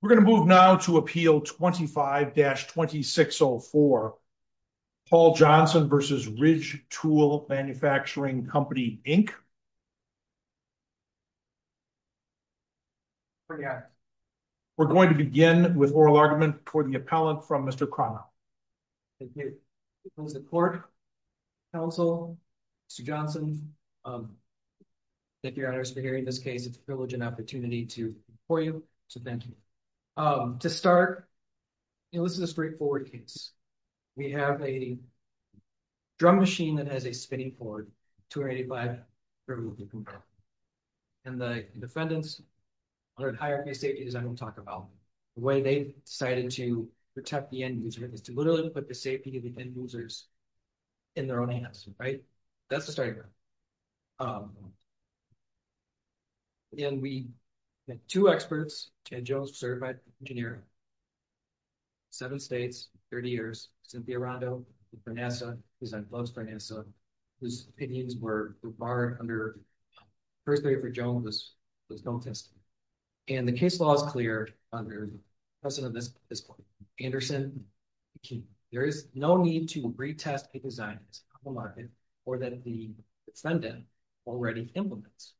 We're going to move now to Appeal 25-2604, Paul Johnson v. Ridge Tool Manufacturing Company, Inc. We're going to begin with oral argument toward the appellant from Mr. Cronow. Thank you. I support counsel, Mr. Johnson. Thank you, Your Honor, for hearing this case. It's a privilege and opportunity for you, so thank you. To start, you know, this is a straightforward case. We have a drum machine that has a spinning cord, 285. And the defendants are at higher pay stages I won't talk about. The way they decided to protect the end user is to literally put the safety of the end users in their own hands. Right? That's the starting point. And we have two experts, Ed Jones, a certified engineer, seven states, 30 years, Cynthia Rondo for NASA, who's on gloves for NASA, whose opinions were barred under the first period for Jones was no testing. And the case law is clear under the precedent at this point. Anderson, there is no need to retest a design that's compromised or that the defendant already implements.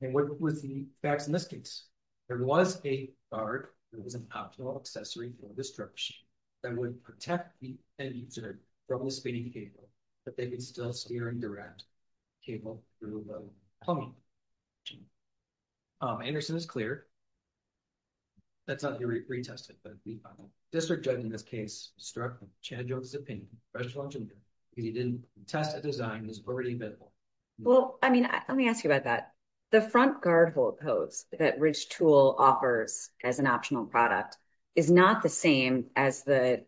And what was the facts in this case? There was a guard that was an optional accessory for this drum machine that would protect the end user from the spinning cable, but they could still steer and direct the cable through the plumbing. Anderson is clear. That's not retested, but district judge in this case struck Chad Jones' opinion, because he didn't test a design that was already available. Well, I mean, let me ask you about that. The front guard hose that Ridge Tool offers as an optional product is not the same as the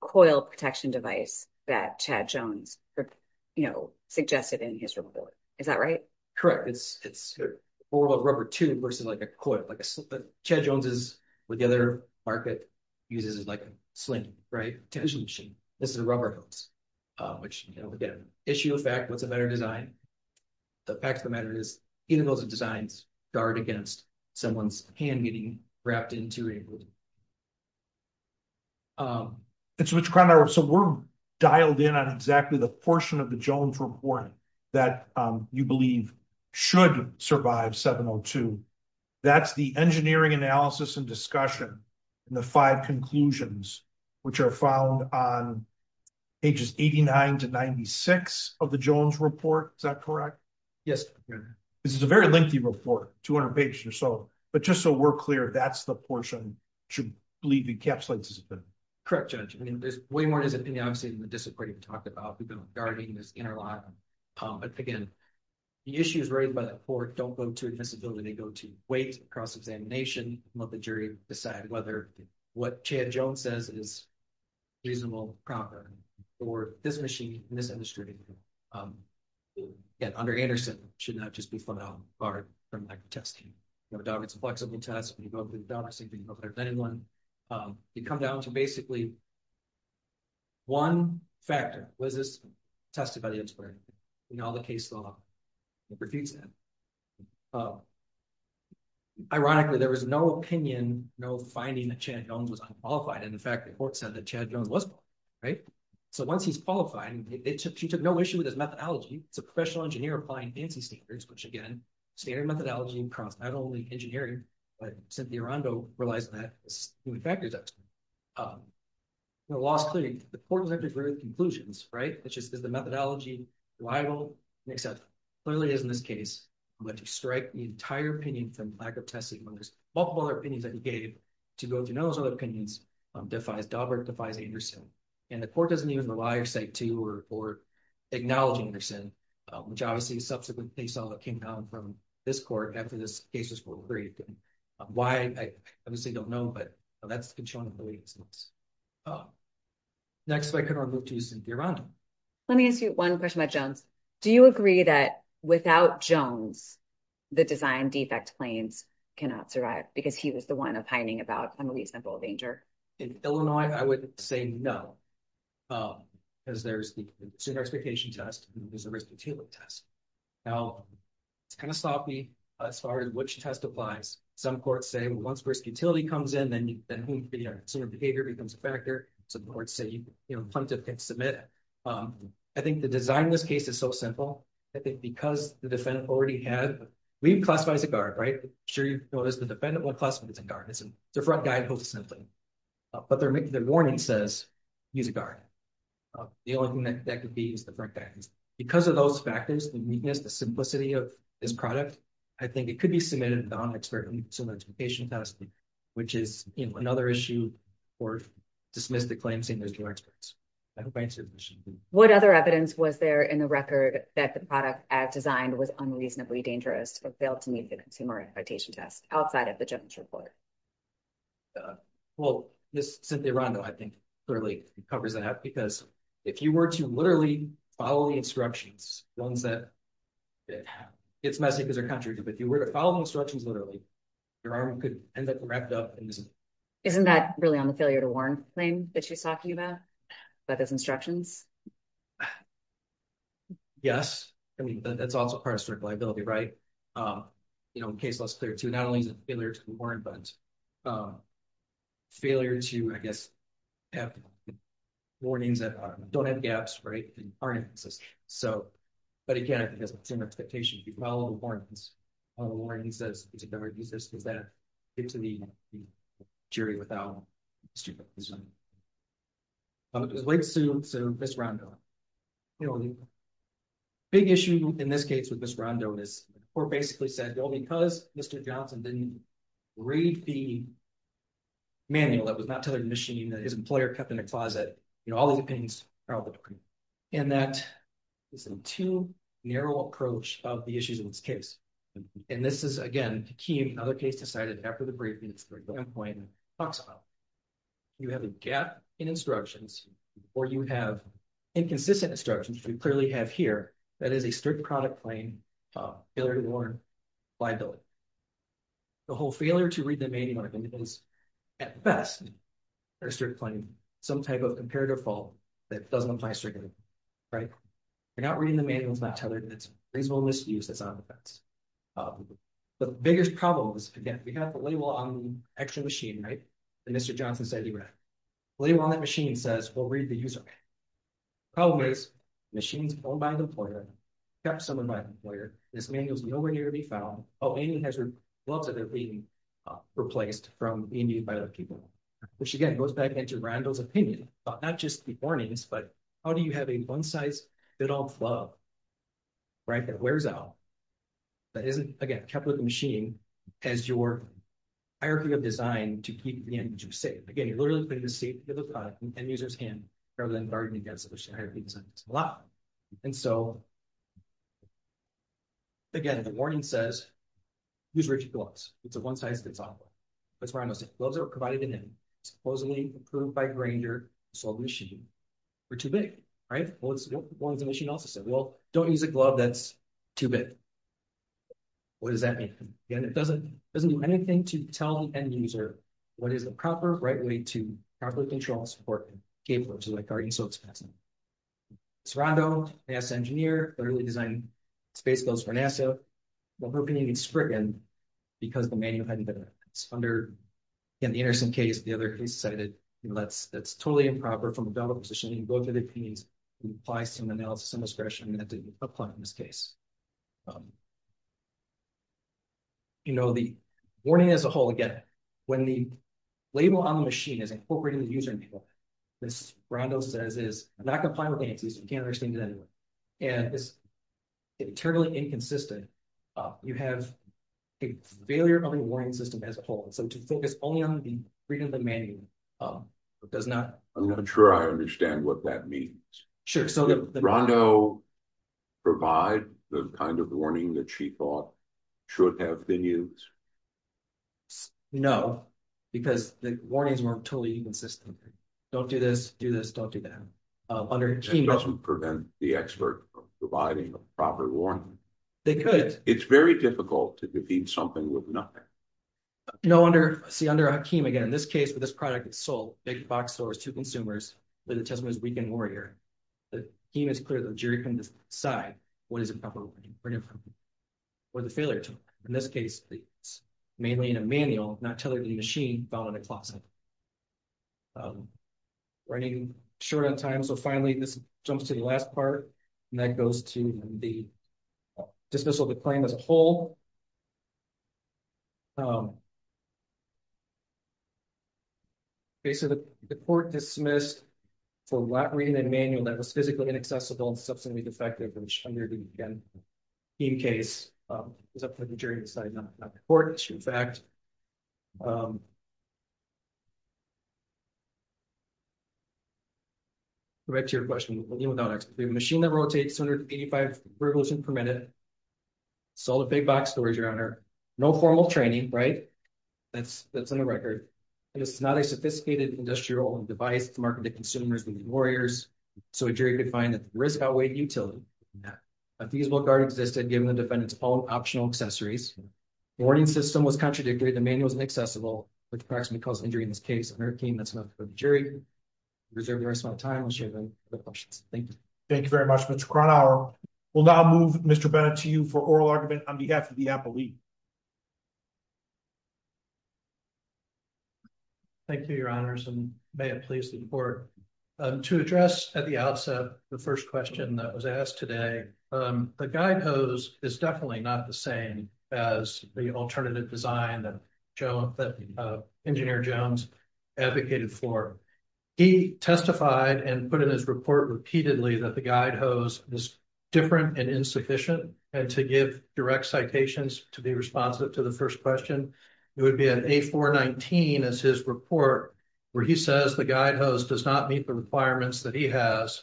coil protection device that Chad Jones, you know, suggested in his report. Is that right? Correct. It's a rubber tube versus like a coil. Chad Jones' market uses it like a sling, right? A tension machine. This is a rubber hose, which again, issue of fact, what's a better design? The fact of the matter is even those designs guard against someone's hand getting wrapped into it. So we're dialed in on exactly the portion of the Jones report that you believe should survive 702. That's the engineering analysis and discussion and the 5 conclusions, which are found on pages 89 to 96 of the Jones report. Is that correct? Yes. This is a very lengthy report, 200 pages or so, but just so we're clear, that's the portion that should be encapsulated. Correct, Judge. I mean, there's way more to this than we've talked about. We've been regarding this interlock, but again, the issues raised by the court don't go to admissibility. They go to weight, cross-examination, let the jury decide whether what Chad Jones says is reasonable, proper, or this machine, this industry, under Anderson, should not just be flung out, barred from testing. You have a dog, it's a flexible test. You go up to the dog and say, can you go better than anyone? You come down to basically one factor. Was this tested by the inspectorate? In all the case law, it refutes that. Ironically, there was no opinion, no finding that Chad Jones was unqualified. And in fact, the report said that Chad Jones was qualified. So once he's qualified, she took no issue with his methodology. It's a professional engineer applying fancy standards, which again, standard methodology across not only engineering, but Cynthia Rondo relies on that as human factors actually. The law is clear, the court was able to agree with the conclusions. It's just, is the methodology reliable? Clearly it is in this case, but to strike the entire opinion from lack of testing, multiple other opinions that he gave to go to those other opinions, defies Daubert, defies Anderson. And the court doesn't even rely or say to or acknowledge Anderson, which obviously subsequently they saw that came down from this court after this case was approved. Why, I obviously don't know, but that's been shown in the legal sense. Next, if I could, I'll move to Cynthia Rondo. Let me ask you one question about Jones. Do you agree that without Jones, the design defect claims cannot survive because he was the one opining about a reasonable danger? In Illinois, I would say no, because there's the consumer expectation test and there's a risk utility test. Now, it's kind of sloppy as far as which test applies. Some courts say, well, once risk utility comes in, then the consumer behavior becomes a factor. Some courts say, you know, plaintiff can submit. I think the design in this case is so simple. I think because the defendant already had, we classify as a guard, right? I'm sure you've noticed the defendant won't classify as a guard. It's a front guy who holds a symphony. But their warning says, he's a guard. The only thing that could be is the front guy. Because of those factors, the weakness, the simplicity of this product, I think it could be submitted without an expert on the consumer expectation test, which is, you know, or dismiss the claim saying there's no experts. What other evidence was there in the record that the product as designed was unreasonably dangerous or failed to meet the consumer expectation test outside of the Jones report? Well, this Cynthia Rondo, I think clearly covers that up because if you were to literally follow the instructions, ones that it's messy because they're contradictory, but if you were to follow instructions, literally your arm could end up wrapped up. Isn't that really on the failure to warn thing that she's talking about, about those instructions? Yes. I mean, that's also part of strict liability, right? You know, in case less clear to not only is it failure to warn, but failure to, I guess, have warnings that don't have gaps, right? So, but again, consumer expectation, if you follow the warnings, the warning says, does it ever exist? Does that get to the jury without stupidism? So, Ms. Rondo, you know, the big issue in this case with Ms. Rondo is the court basically said, well, because Mr. Johnson didn't read the manual that was not tethered to the machine that his employer kept in a closet, you know, all of the opinions are all the same. And that is a too narrow approach of the issues in this case. And this is, again, the key in another case decided after the briefings, the end point talks about. You have a gap in instructions or you have inconsistent instructions, which we clearly have here, that is a strict product claim, failure to warn, liability. The whole failure to read the manual is at best a strict claim, some type of comparative fault that doesn't apply strictly, right? They're not reading the manuals, not tethered. It's reasonable misuse that's on the fence. The biggest problem is, again, we have the label on the actual machine, right? That Mr. Johnson said he read. The label on that machine says, well, read the user manual. The problem is machines owned by an employer, kept somewhere by the employer. This manual is nowhere near to be hazard gloves that are being replaced from being used by other people, which again, goes back into Randall's opinion, not just the warnings, but how do you have a one size fits all glove, right? That wears out. That isn't, again, kept with the machine as your hierarchy of design to keep the end user safe. Again, you're literally putting the safety of the product in the end user's hand rather than guarding against it, which I think is a lot. And so, again, the warning says, use rigid gloves. It's a one size fits all. That's what Randall said. Gloves are provided in supposedly approved by Granger, sold to the machine. They're too big, right? Well, the machine also said, well, don't use a glove that's too big. What does that mean? Again, it doesn't do anything to tell the end user what is the proper right way to properly control, support, and gape, which is why guarding is so expensive. So Randall, NASA engineer, literally designed space gloves for NASA. Well, her opinion gets stricken because the manual hadn't been under, in the Anderson case, the other case decided, you know, that's totally improper from a developer position. You can go through the opinions and apply some analysis and discretion that didn't apply in this case. But, you know, the warning as a whole, again, when the label on the machine is incorporated in the user label, this, Randall says, is not going to apply to the end user. You can't understand it anyway. And it's terribly inconsistent. You have a failure of the warning system as a whole. So to focus only on the reading of the manual does not. I'm not sure I understand what that means. Sure. So Rondo provide the kind of warning that she thought should have been used? No, because the warnings weren't totally inconsistent. Don't do this, do this, don't do that. That doesn't prevent the expert from providing a proper warning. They could. It's very difficult to defeat something with nothing. No wonder, see under Hakim again, in this case, with this product, it's sold big box stores to consumers, but the test was weekend warrior. The team is clear that the jury can decide what is improper, where the failure took. In this case, it's mainly in a manual, not tethered to the machine found in a closet. Running short on time. So finally, this jumps to the last part, and that goes to the dismissal of the claim as a whole. Okay, so the court dismissed for not reading a manual that was physically inaccessible and substantially defective under the Hakim case. It's up to the jury to decide, not the court. It's a true fact. Right to your question, machine that rotates 185 revolutions per minute, sold at big box stores, Your Honor. No formal training, right? That's on the record. It's not a sophisticated industrial device to market to consumers and warriors. So a jury could find that the risk outweighed utility. A feasible guard existed, given the defendant's own optional accessories. The warning system was contradictory. The manual was inaccessible, which practically caused injury in this case. Under Hakim, that's enough for the jury. We reserve the rest of my time. Thank you very much, Mr. Kronhauer. We'll now move Mr. Bennett to you for oral argument on behalf of the appellee. Thank you, Your Honors, and may it please the court. To address at the outset, the first question that was asked today, the guide hose is definitely not the same as the alternative design that engineer Jones advocated for. He testified and put in his report repeatedly that the guide hose is different and insufficient. And to give direct citations to be responsive to the first question, it would be an A419 as his report where he says the guide hose does not meet the requirements that he has.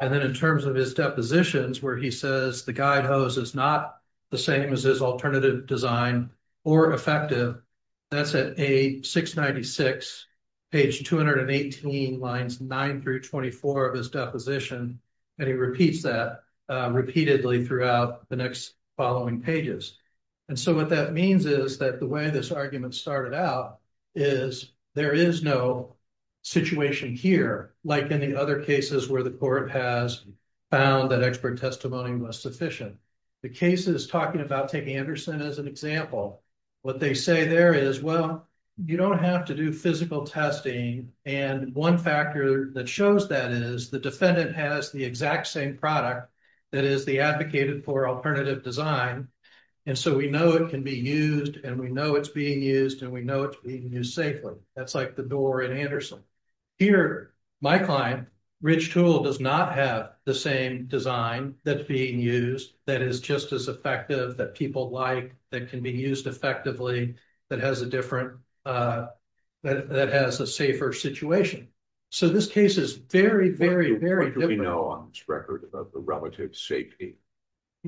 And then in terms of his depositions where he says the guide hose is not the same as his alternative design or effective, that's at A696, page 218, 9-24 of his deposition. And he repeats that repeatedly throughout the next following pages. And so what that means is that the way this argument started out is there is no situation here like any other cases where the court has found that expert testimony was sufficient. The case is talking about taking Anderson as an example. What they say there is, well, you don't have to do physical testing. And one factor that shows that is the defendant has the exact same product that is the advocated for alternative design. And so we know it can be used and we know it's being used and we know it's being used safely. That's like the door in Anderson. Here, my client, Ridge Tool, does not have the same design that's being used that is just as effective, that people like, that can be used effectively, that has a safer situation. So this case is very, very, very different. What do we know on this record about the relative safety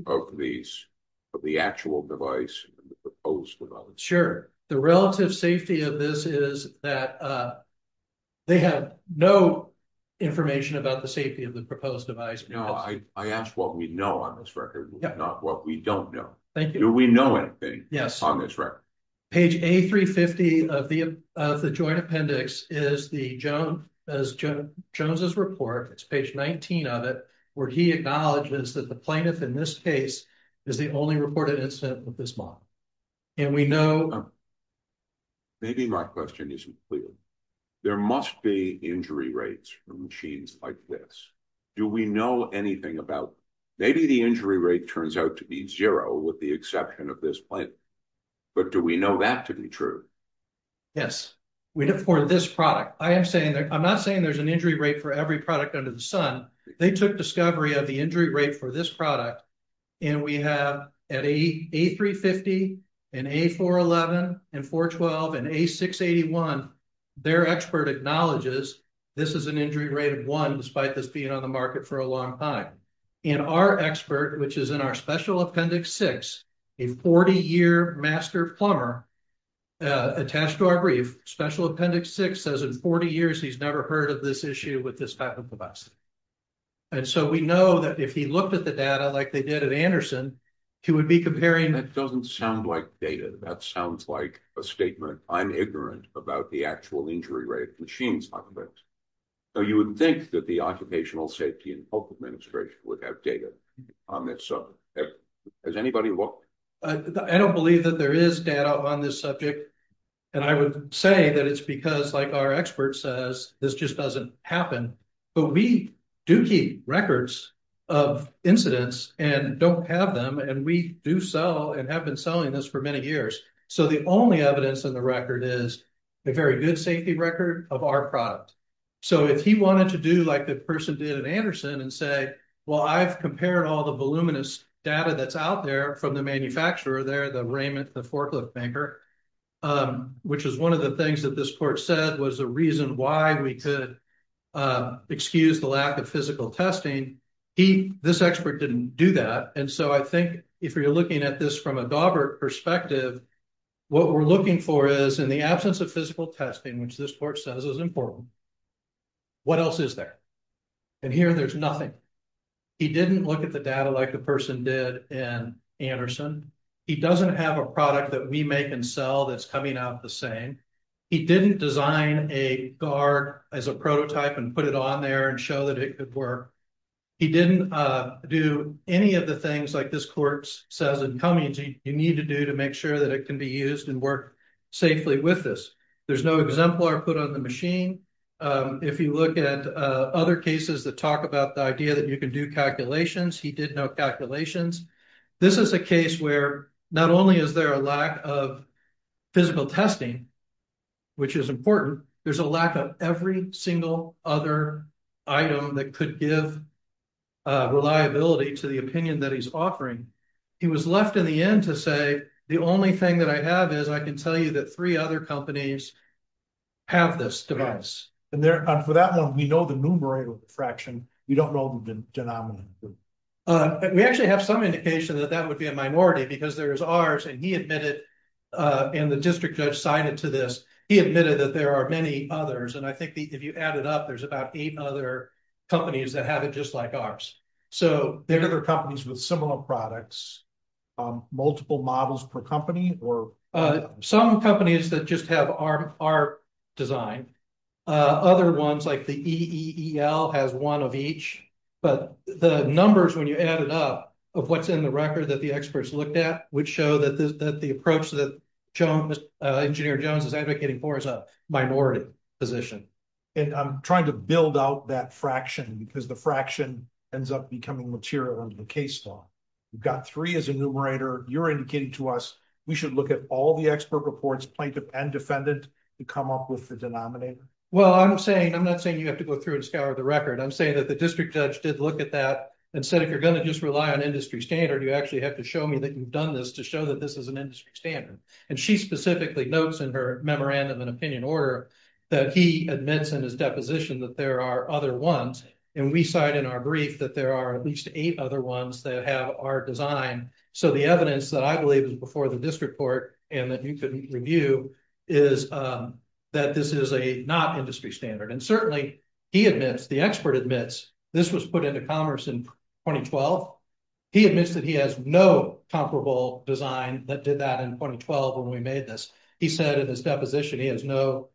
of the actual device and the proposed device? Sure. The relative safety of this is that they had no information about the safety of the proposed device. No, I asked what we know on this record, not what we don't know. Thank you. Do we know anything on this record? Page A350 of the joint appendix is the Jones's report, it's page 19 of it, where he acknowledges that the plaintiff in this case is the only reported incident with this model. And we know... Maybe my question isn't clear. There must be injury rates from machines like this. Do we know anything about... Maybe the injury rate turns out to be zero with the exception of this plant, but do we know that to be true? Yes, we know for this product. I am saying that... I'm not saying there's an injury rate for every product under the sun. They took discovery of the injury rate for this product and we have at A350 and A411 and 412 and A681, their expert acknowledges this is an injury rate of one despite this being on the market for a long time. And our expert, which is in our special appendix six, a 40-year master plumber, attached to our brief, special appendix six, says in 40 years he's never heard of this issue with this type of device. And so we know that if he looked at the data like they did at Anderson, he would be comparing... That doesn't sound like data. That sounds like a statement. I'm ignorant about the actual injury rate of machines like this. So you wouldn't think that the Occupational Safety and Health Administration would have data on this subject. Has anybody looked? I don't believe that there is data on this subject. And I would say that it's because, like our expert says, this just doesn't happen. But we do keep records of incidents and don't have them. And we do sell and have been selling this for many years. So the only evidence in the record is a very good safety record of our product. So if he wanted to do like the person did at Anderson and say, well, I've compared all the voluminous data that's out there from the manufacturer there, the Raymond, the forklift banker, which is one of the things that this court said was a reason why we could excuse the lack of physical testing. This expert didn't do that. And so I think if you're looking at this from a Daubert perspective, what we're looking for is in the absence of physical testing, which this court says is important, what else is there? And here there's nothing. He didn't look at the data like the person did in Anderson. He doesn't have a product that we make and sell that's coming out the same. He didn't design a guard as a prototype and put it on there and show that it could work. He didn't do any of the things like this court says in Cummings you need to do to make sure that it can be used and work safely with this. There's no exemplar put on the machine. If you look at other cases that talk about the idea that you can do calculations, he did no calculations. This is a case where not only is there a lack of physical testing, which is important, there's a lack of every single other item that could give reliability to the opinion that he's offering. He was left in the end to say, the only thing that I have is I can tell you that three other companies have this device. And for that one, we know the numerator fraction. We don't know the denominator. We actually have some indication that that would be a minority because there is ours and he admitted, and the district judge signed it to this, he admitted that there are many others. And I think if you add it up, there's about eight other companies that have it just like ours. So there are other companies with similar products, multiple models per company or some companies that just have our design. Other ones like the EEL has one of each, but the numbers when you add it up of what's in the record that the experts looked at would show that the approach that engineer Jones is advocating for is a minority position. And I'm trying to build out that fraction because the fraction ends up becoming material under the case law. You've got three as a numerator, you're indicating to us, we should look at all the expert reports plaintiff and defendant to come up with the denominator. Well, I'm not saying you have to go through and say that the district judge did look at that and said, if you're going to just rely on industry standard, you actually have to show me that you've done this to show that this is an industry standard. And she specifically notes in her memorandum and opinion order that he admits in his deposition that there are other ones. And we cite in our brief that there are at least eight other ones that have our design. So the evidence that I believe is before the district court and that review is that this is a not industry standard. And certainly he admits the expert admits this was put into commerce in 2012. He admits that he has no comparable design that did that in 2012. When we made this, he said in his deposition, he has no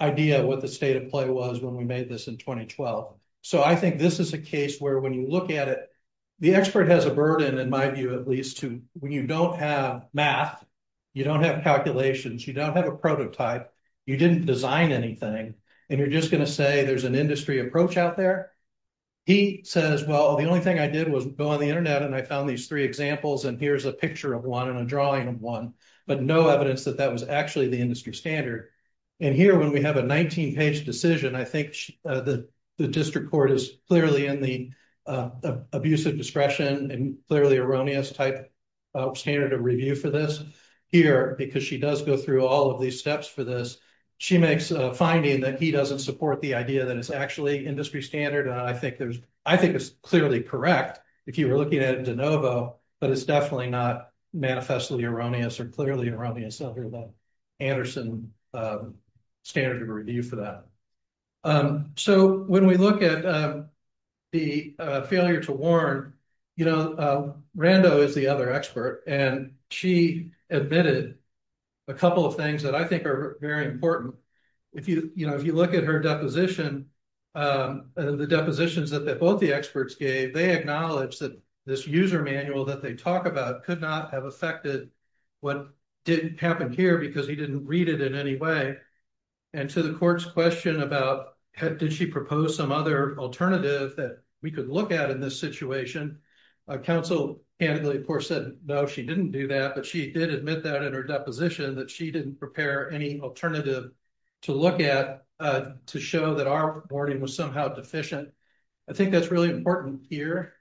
idea what the state of play was when we made this in 2012. So I think this is a case where when you look at it, the expert has a you don't have a prototype, you didn't design anything. And you're just going to say there's an industry approach out there. He says, well, the only thing I did was go on the internet and I found these three examples. And here's a picture of one and a drawing of one, but no evidence that that was actually the industry standard. And here, when we have a 19 page decision, I think the district court is clearly in the abuse of discretion and clearly erroneous type standard of review for this here, because she does go through all of these steps for this. She makes a finding that he doesn't support the idea that it's actually industry standard. And I think there's, I think it's clearly correct, if you were looking at de novo, but it's definitely not manifestly erroneous or clearly erroneous under the Anderson standard of review for that. Um, so when we look at, um, the, uh, failure to warn, you know, uh, Rando is the other expert, and she admitted a couple of things that I think are very important. If you, you know, if you look at her deposition, um, the depositions that both the experts gave, they acknowledged that this user manual that they talk about could not have affected what didn't happen here because he didn't read it in any way. And to the court's question about, had, did she propose some other alternative that we could look at in this situation? Council and of course said, no, she didn't do that, but she did admit that in her deposition that she didn't prepare any alternative to look at, uh, to show that our warning was somehow deficient. I think that's really important here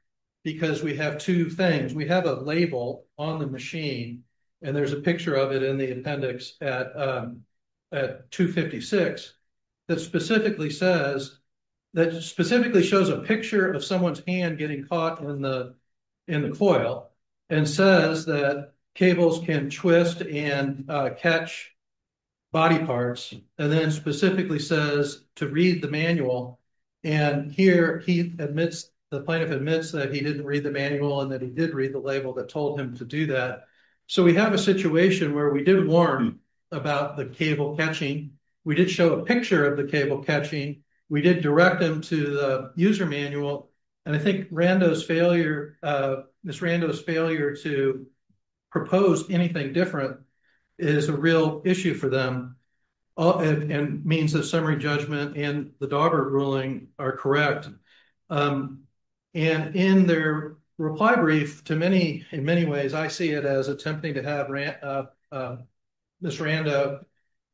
because we have two things. We have a label on the machine and there's a picture of it in the appendix at, um, at 256 that specifically says, that specifically shows a picture of someone's hand getting caught in the, in the coil and says that cables can twist and, uh, catch body parts. And then specifically says to read the manual. And here he admits, the plaintiff admits that he didn't read the manual and that he did read the label that told him to do that. So we have a situation where we did warn about the cable catching. We did show a picture of the cable catching. We did direct them to the user manual. And I think Rando's failure, uh, Ms. Rando's failure to propose anything different is a real issue for them and means that summary judgment and the Daubert ruling are correct. Um, and in their reply brief to many, in many ways, I see it as attempting to have Rando, uh, uh, Ms. Rando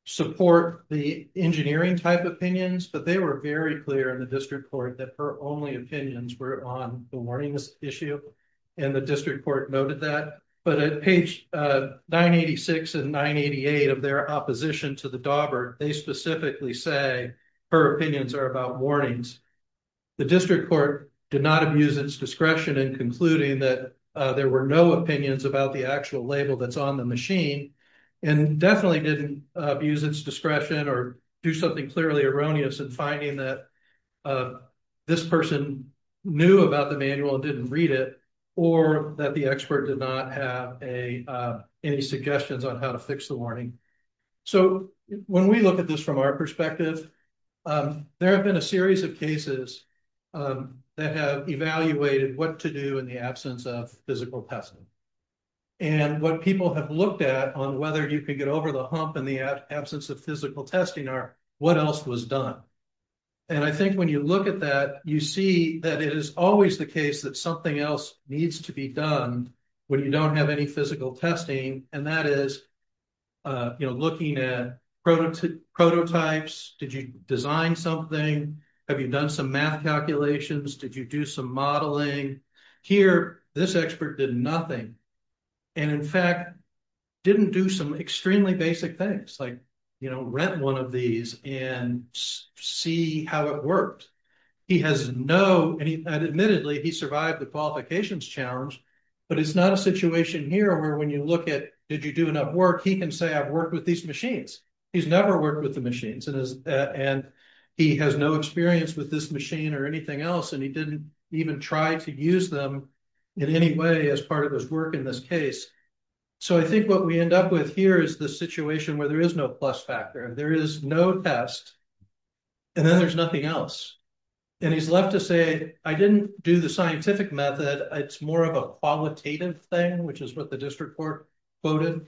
support the engineering type opinions, but they were very clear in the district court that her only opinions were on the warnings issue. And the district court noted that, but at page, uh, 986 and 988 of their opposition to the Daubert, they specifically say her opinions are about warnings. The district court did not abuse its discretion in concluding that, uh, there were no opinions about the actual label that's on the machine and definitely didn't abuse its discretion or do something clearly erroneous and finding that, uh, this person knew about the manual and didn't read it or that the expert did not have a, uh, any suggestions on how to fix the warning. So when we look at this from our perspective, um, there have been a series of cases, um, that have evaluated what to do in the absence of physical testing and what people have looked at on whether you could get over the hump and the absence of physical testing are what else was done. And I think when you look at that, you see that it is always the case that something else needs to be done when you don't have any physical testing. And that is, uh, you know, looking at prototypes, prototypes, did you design something? Have you done some math calculations? Did you do some modeling here? This expert did nothing. And in fact, didn't do some extremely basic things like, you know, rent one of these and see how it worked. He has no, and he admittedly, he survived the qualifications challenge, but it's not a situation here where when you look at, did you do enough work? He can say, I've worked with these machines. He's never worked with the machines and his, uh, and he has no experience with this machine or anything else. And he didn't even try to use them in any way as part of this work in this case. So I think what we end up with here is the situation where there is no plus factor and there is no test and then there's nothing else. And he's left to say, I didn't do the scientific method. It's more of a qualitative thing, which is what the district court voted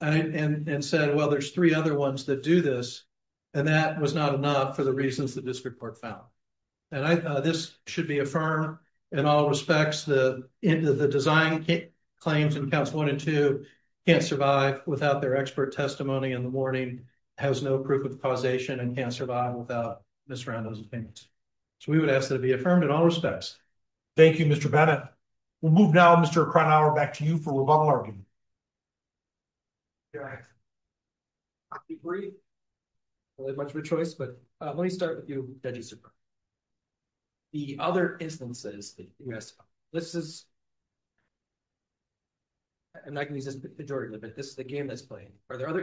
and said, well, there's three other ones that do this. And that was not enough for the reasons the district court found. And I, uh, this should be a firm in all respects, the end of the design claims and counts one and two can't survive without their expert testimony in the morning has no proof of causation and can't survive without this round of those things. So we would ask that it be affirmed in all respects. Thank you, Mr. Bennett. We'll move now, Mr. Cronauer back to you for rebuttal argument. Yeah, I agree. Well, it's much of a choice, but let me start with you. The other instances that you asked, this is, I'm not going to use this majority, but this is the game that's playing. Are there other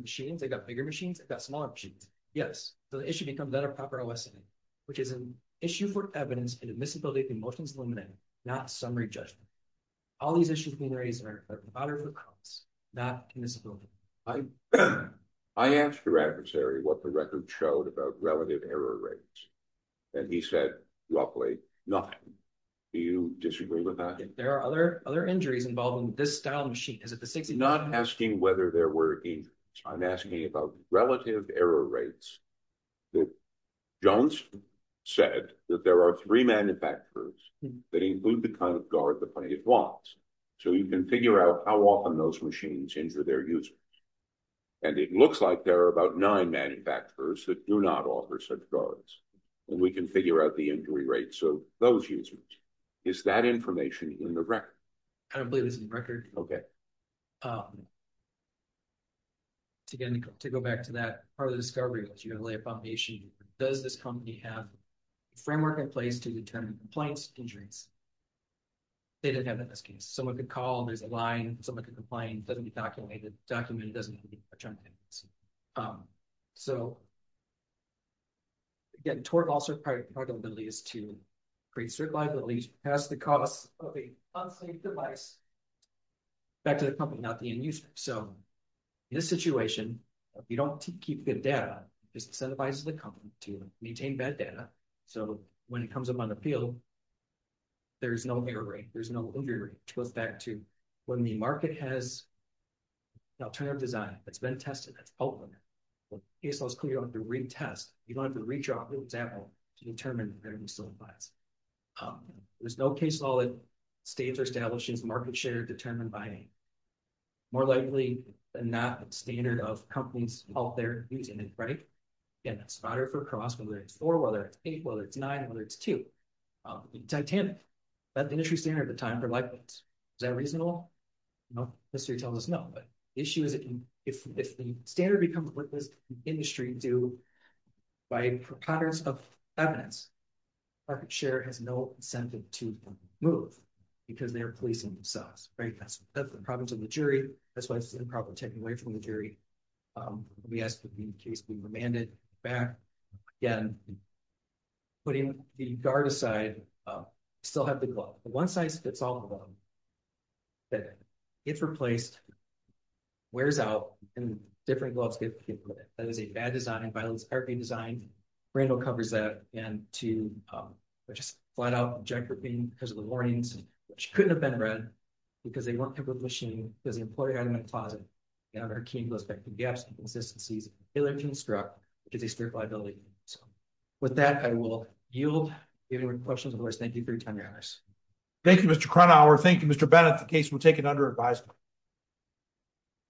machines? I got bigger machines. I've got smaller machines. Yes. So the issue becomes that a proper lesson, which is an issue for evidence and admissibility of emotions, not summary judgment. All these issues being raised are not in this room. I asked your adversary what the record showed about relative error rates. And he said roughly nothing. Do you disagree with that? There are other, other injuries involving this style machine. Is it the 60 not asking whether there were I'm asking about relative error rates that Jones said that there are three manufacturers that include the kind of guard, the plenty of blocks. So you can figure out how often those machines injure their users. And it looks like there are about nine manufacturers that do not offer such guards and we can figure out the injury rate. So those users is that information in the Okay. Again, to go back to that part of the discovery was you're going to lay a foundation. Does this company have a framework in place to determine compliance injuries? They didn't have that in this case. Someone could call and there's a line. Someone could complain. It doesn't get documented. Documented doesn't mean anything. So again, torque also part of the ability is to create certain liabilities past the cost of a unsafe device back to the company, not the end user. So in this situation, if you don't keep good data, just incentivize the company to maintain bad data. So when it comes up on the field, there is no error rate. There's no injury rate. It goes back to when the market has an alternative design that's been tested, that's open. When ASL is clear, you don't have to retest. You don't have to reach out, for example, to determine where you still advise. There's no case law that states or establishes market share determined by more likely than not standard of companies out there using it, right? Again, that's spotter for cross, whether it's four, whether it's eight, whether it's nine, whether it's two. Titanic, that's the industry standard at the time for lightweights. Is that reasonable? No. The history tells us no. But the issue is if the standard becomes what does the industry do by progress of evidence, market share has no incentive to move because they're policing themselves, right? That's the problem to the jury. That's why it's an improper taking away from the jury. We asked in case we remanded back. Again, putting the guard aside, still have the glove. The one size fits all of them. It's replaced, wears out, and different gloves get put in. That is a bad design. Randall covers that. And to just flat out because of the warnings, which couldn't have been read because they weren't able to machine because the employee had them in a closet. They have their keys. They have gaps and inconsistencies. They live to instruct, which is a stupid liability. So with that, I will yield. If you have any questions, of course, thank you for your time, your honors. Thank you, Mr. Kronhauer. Thank you, Mr. Bennett. The case will take an under advised.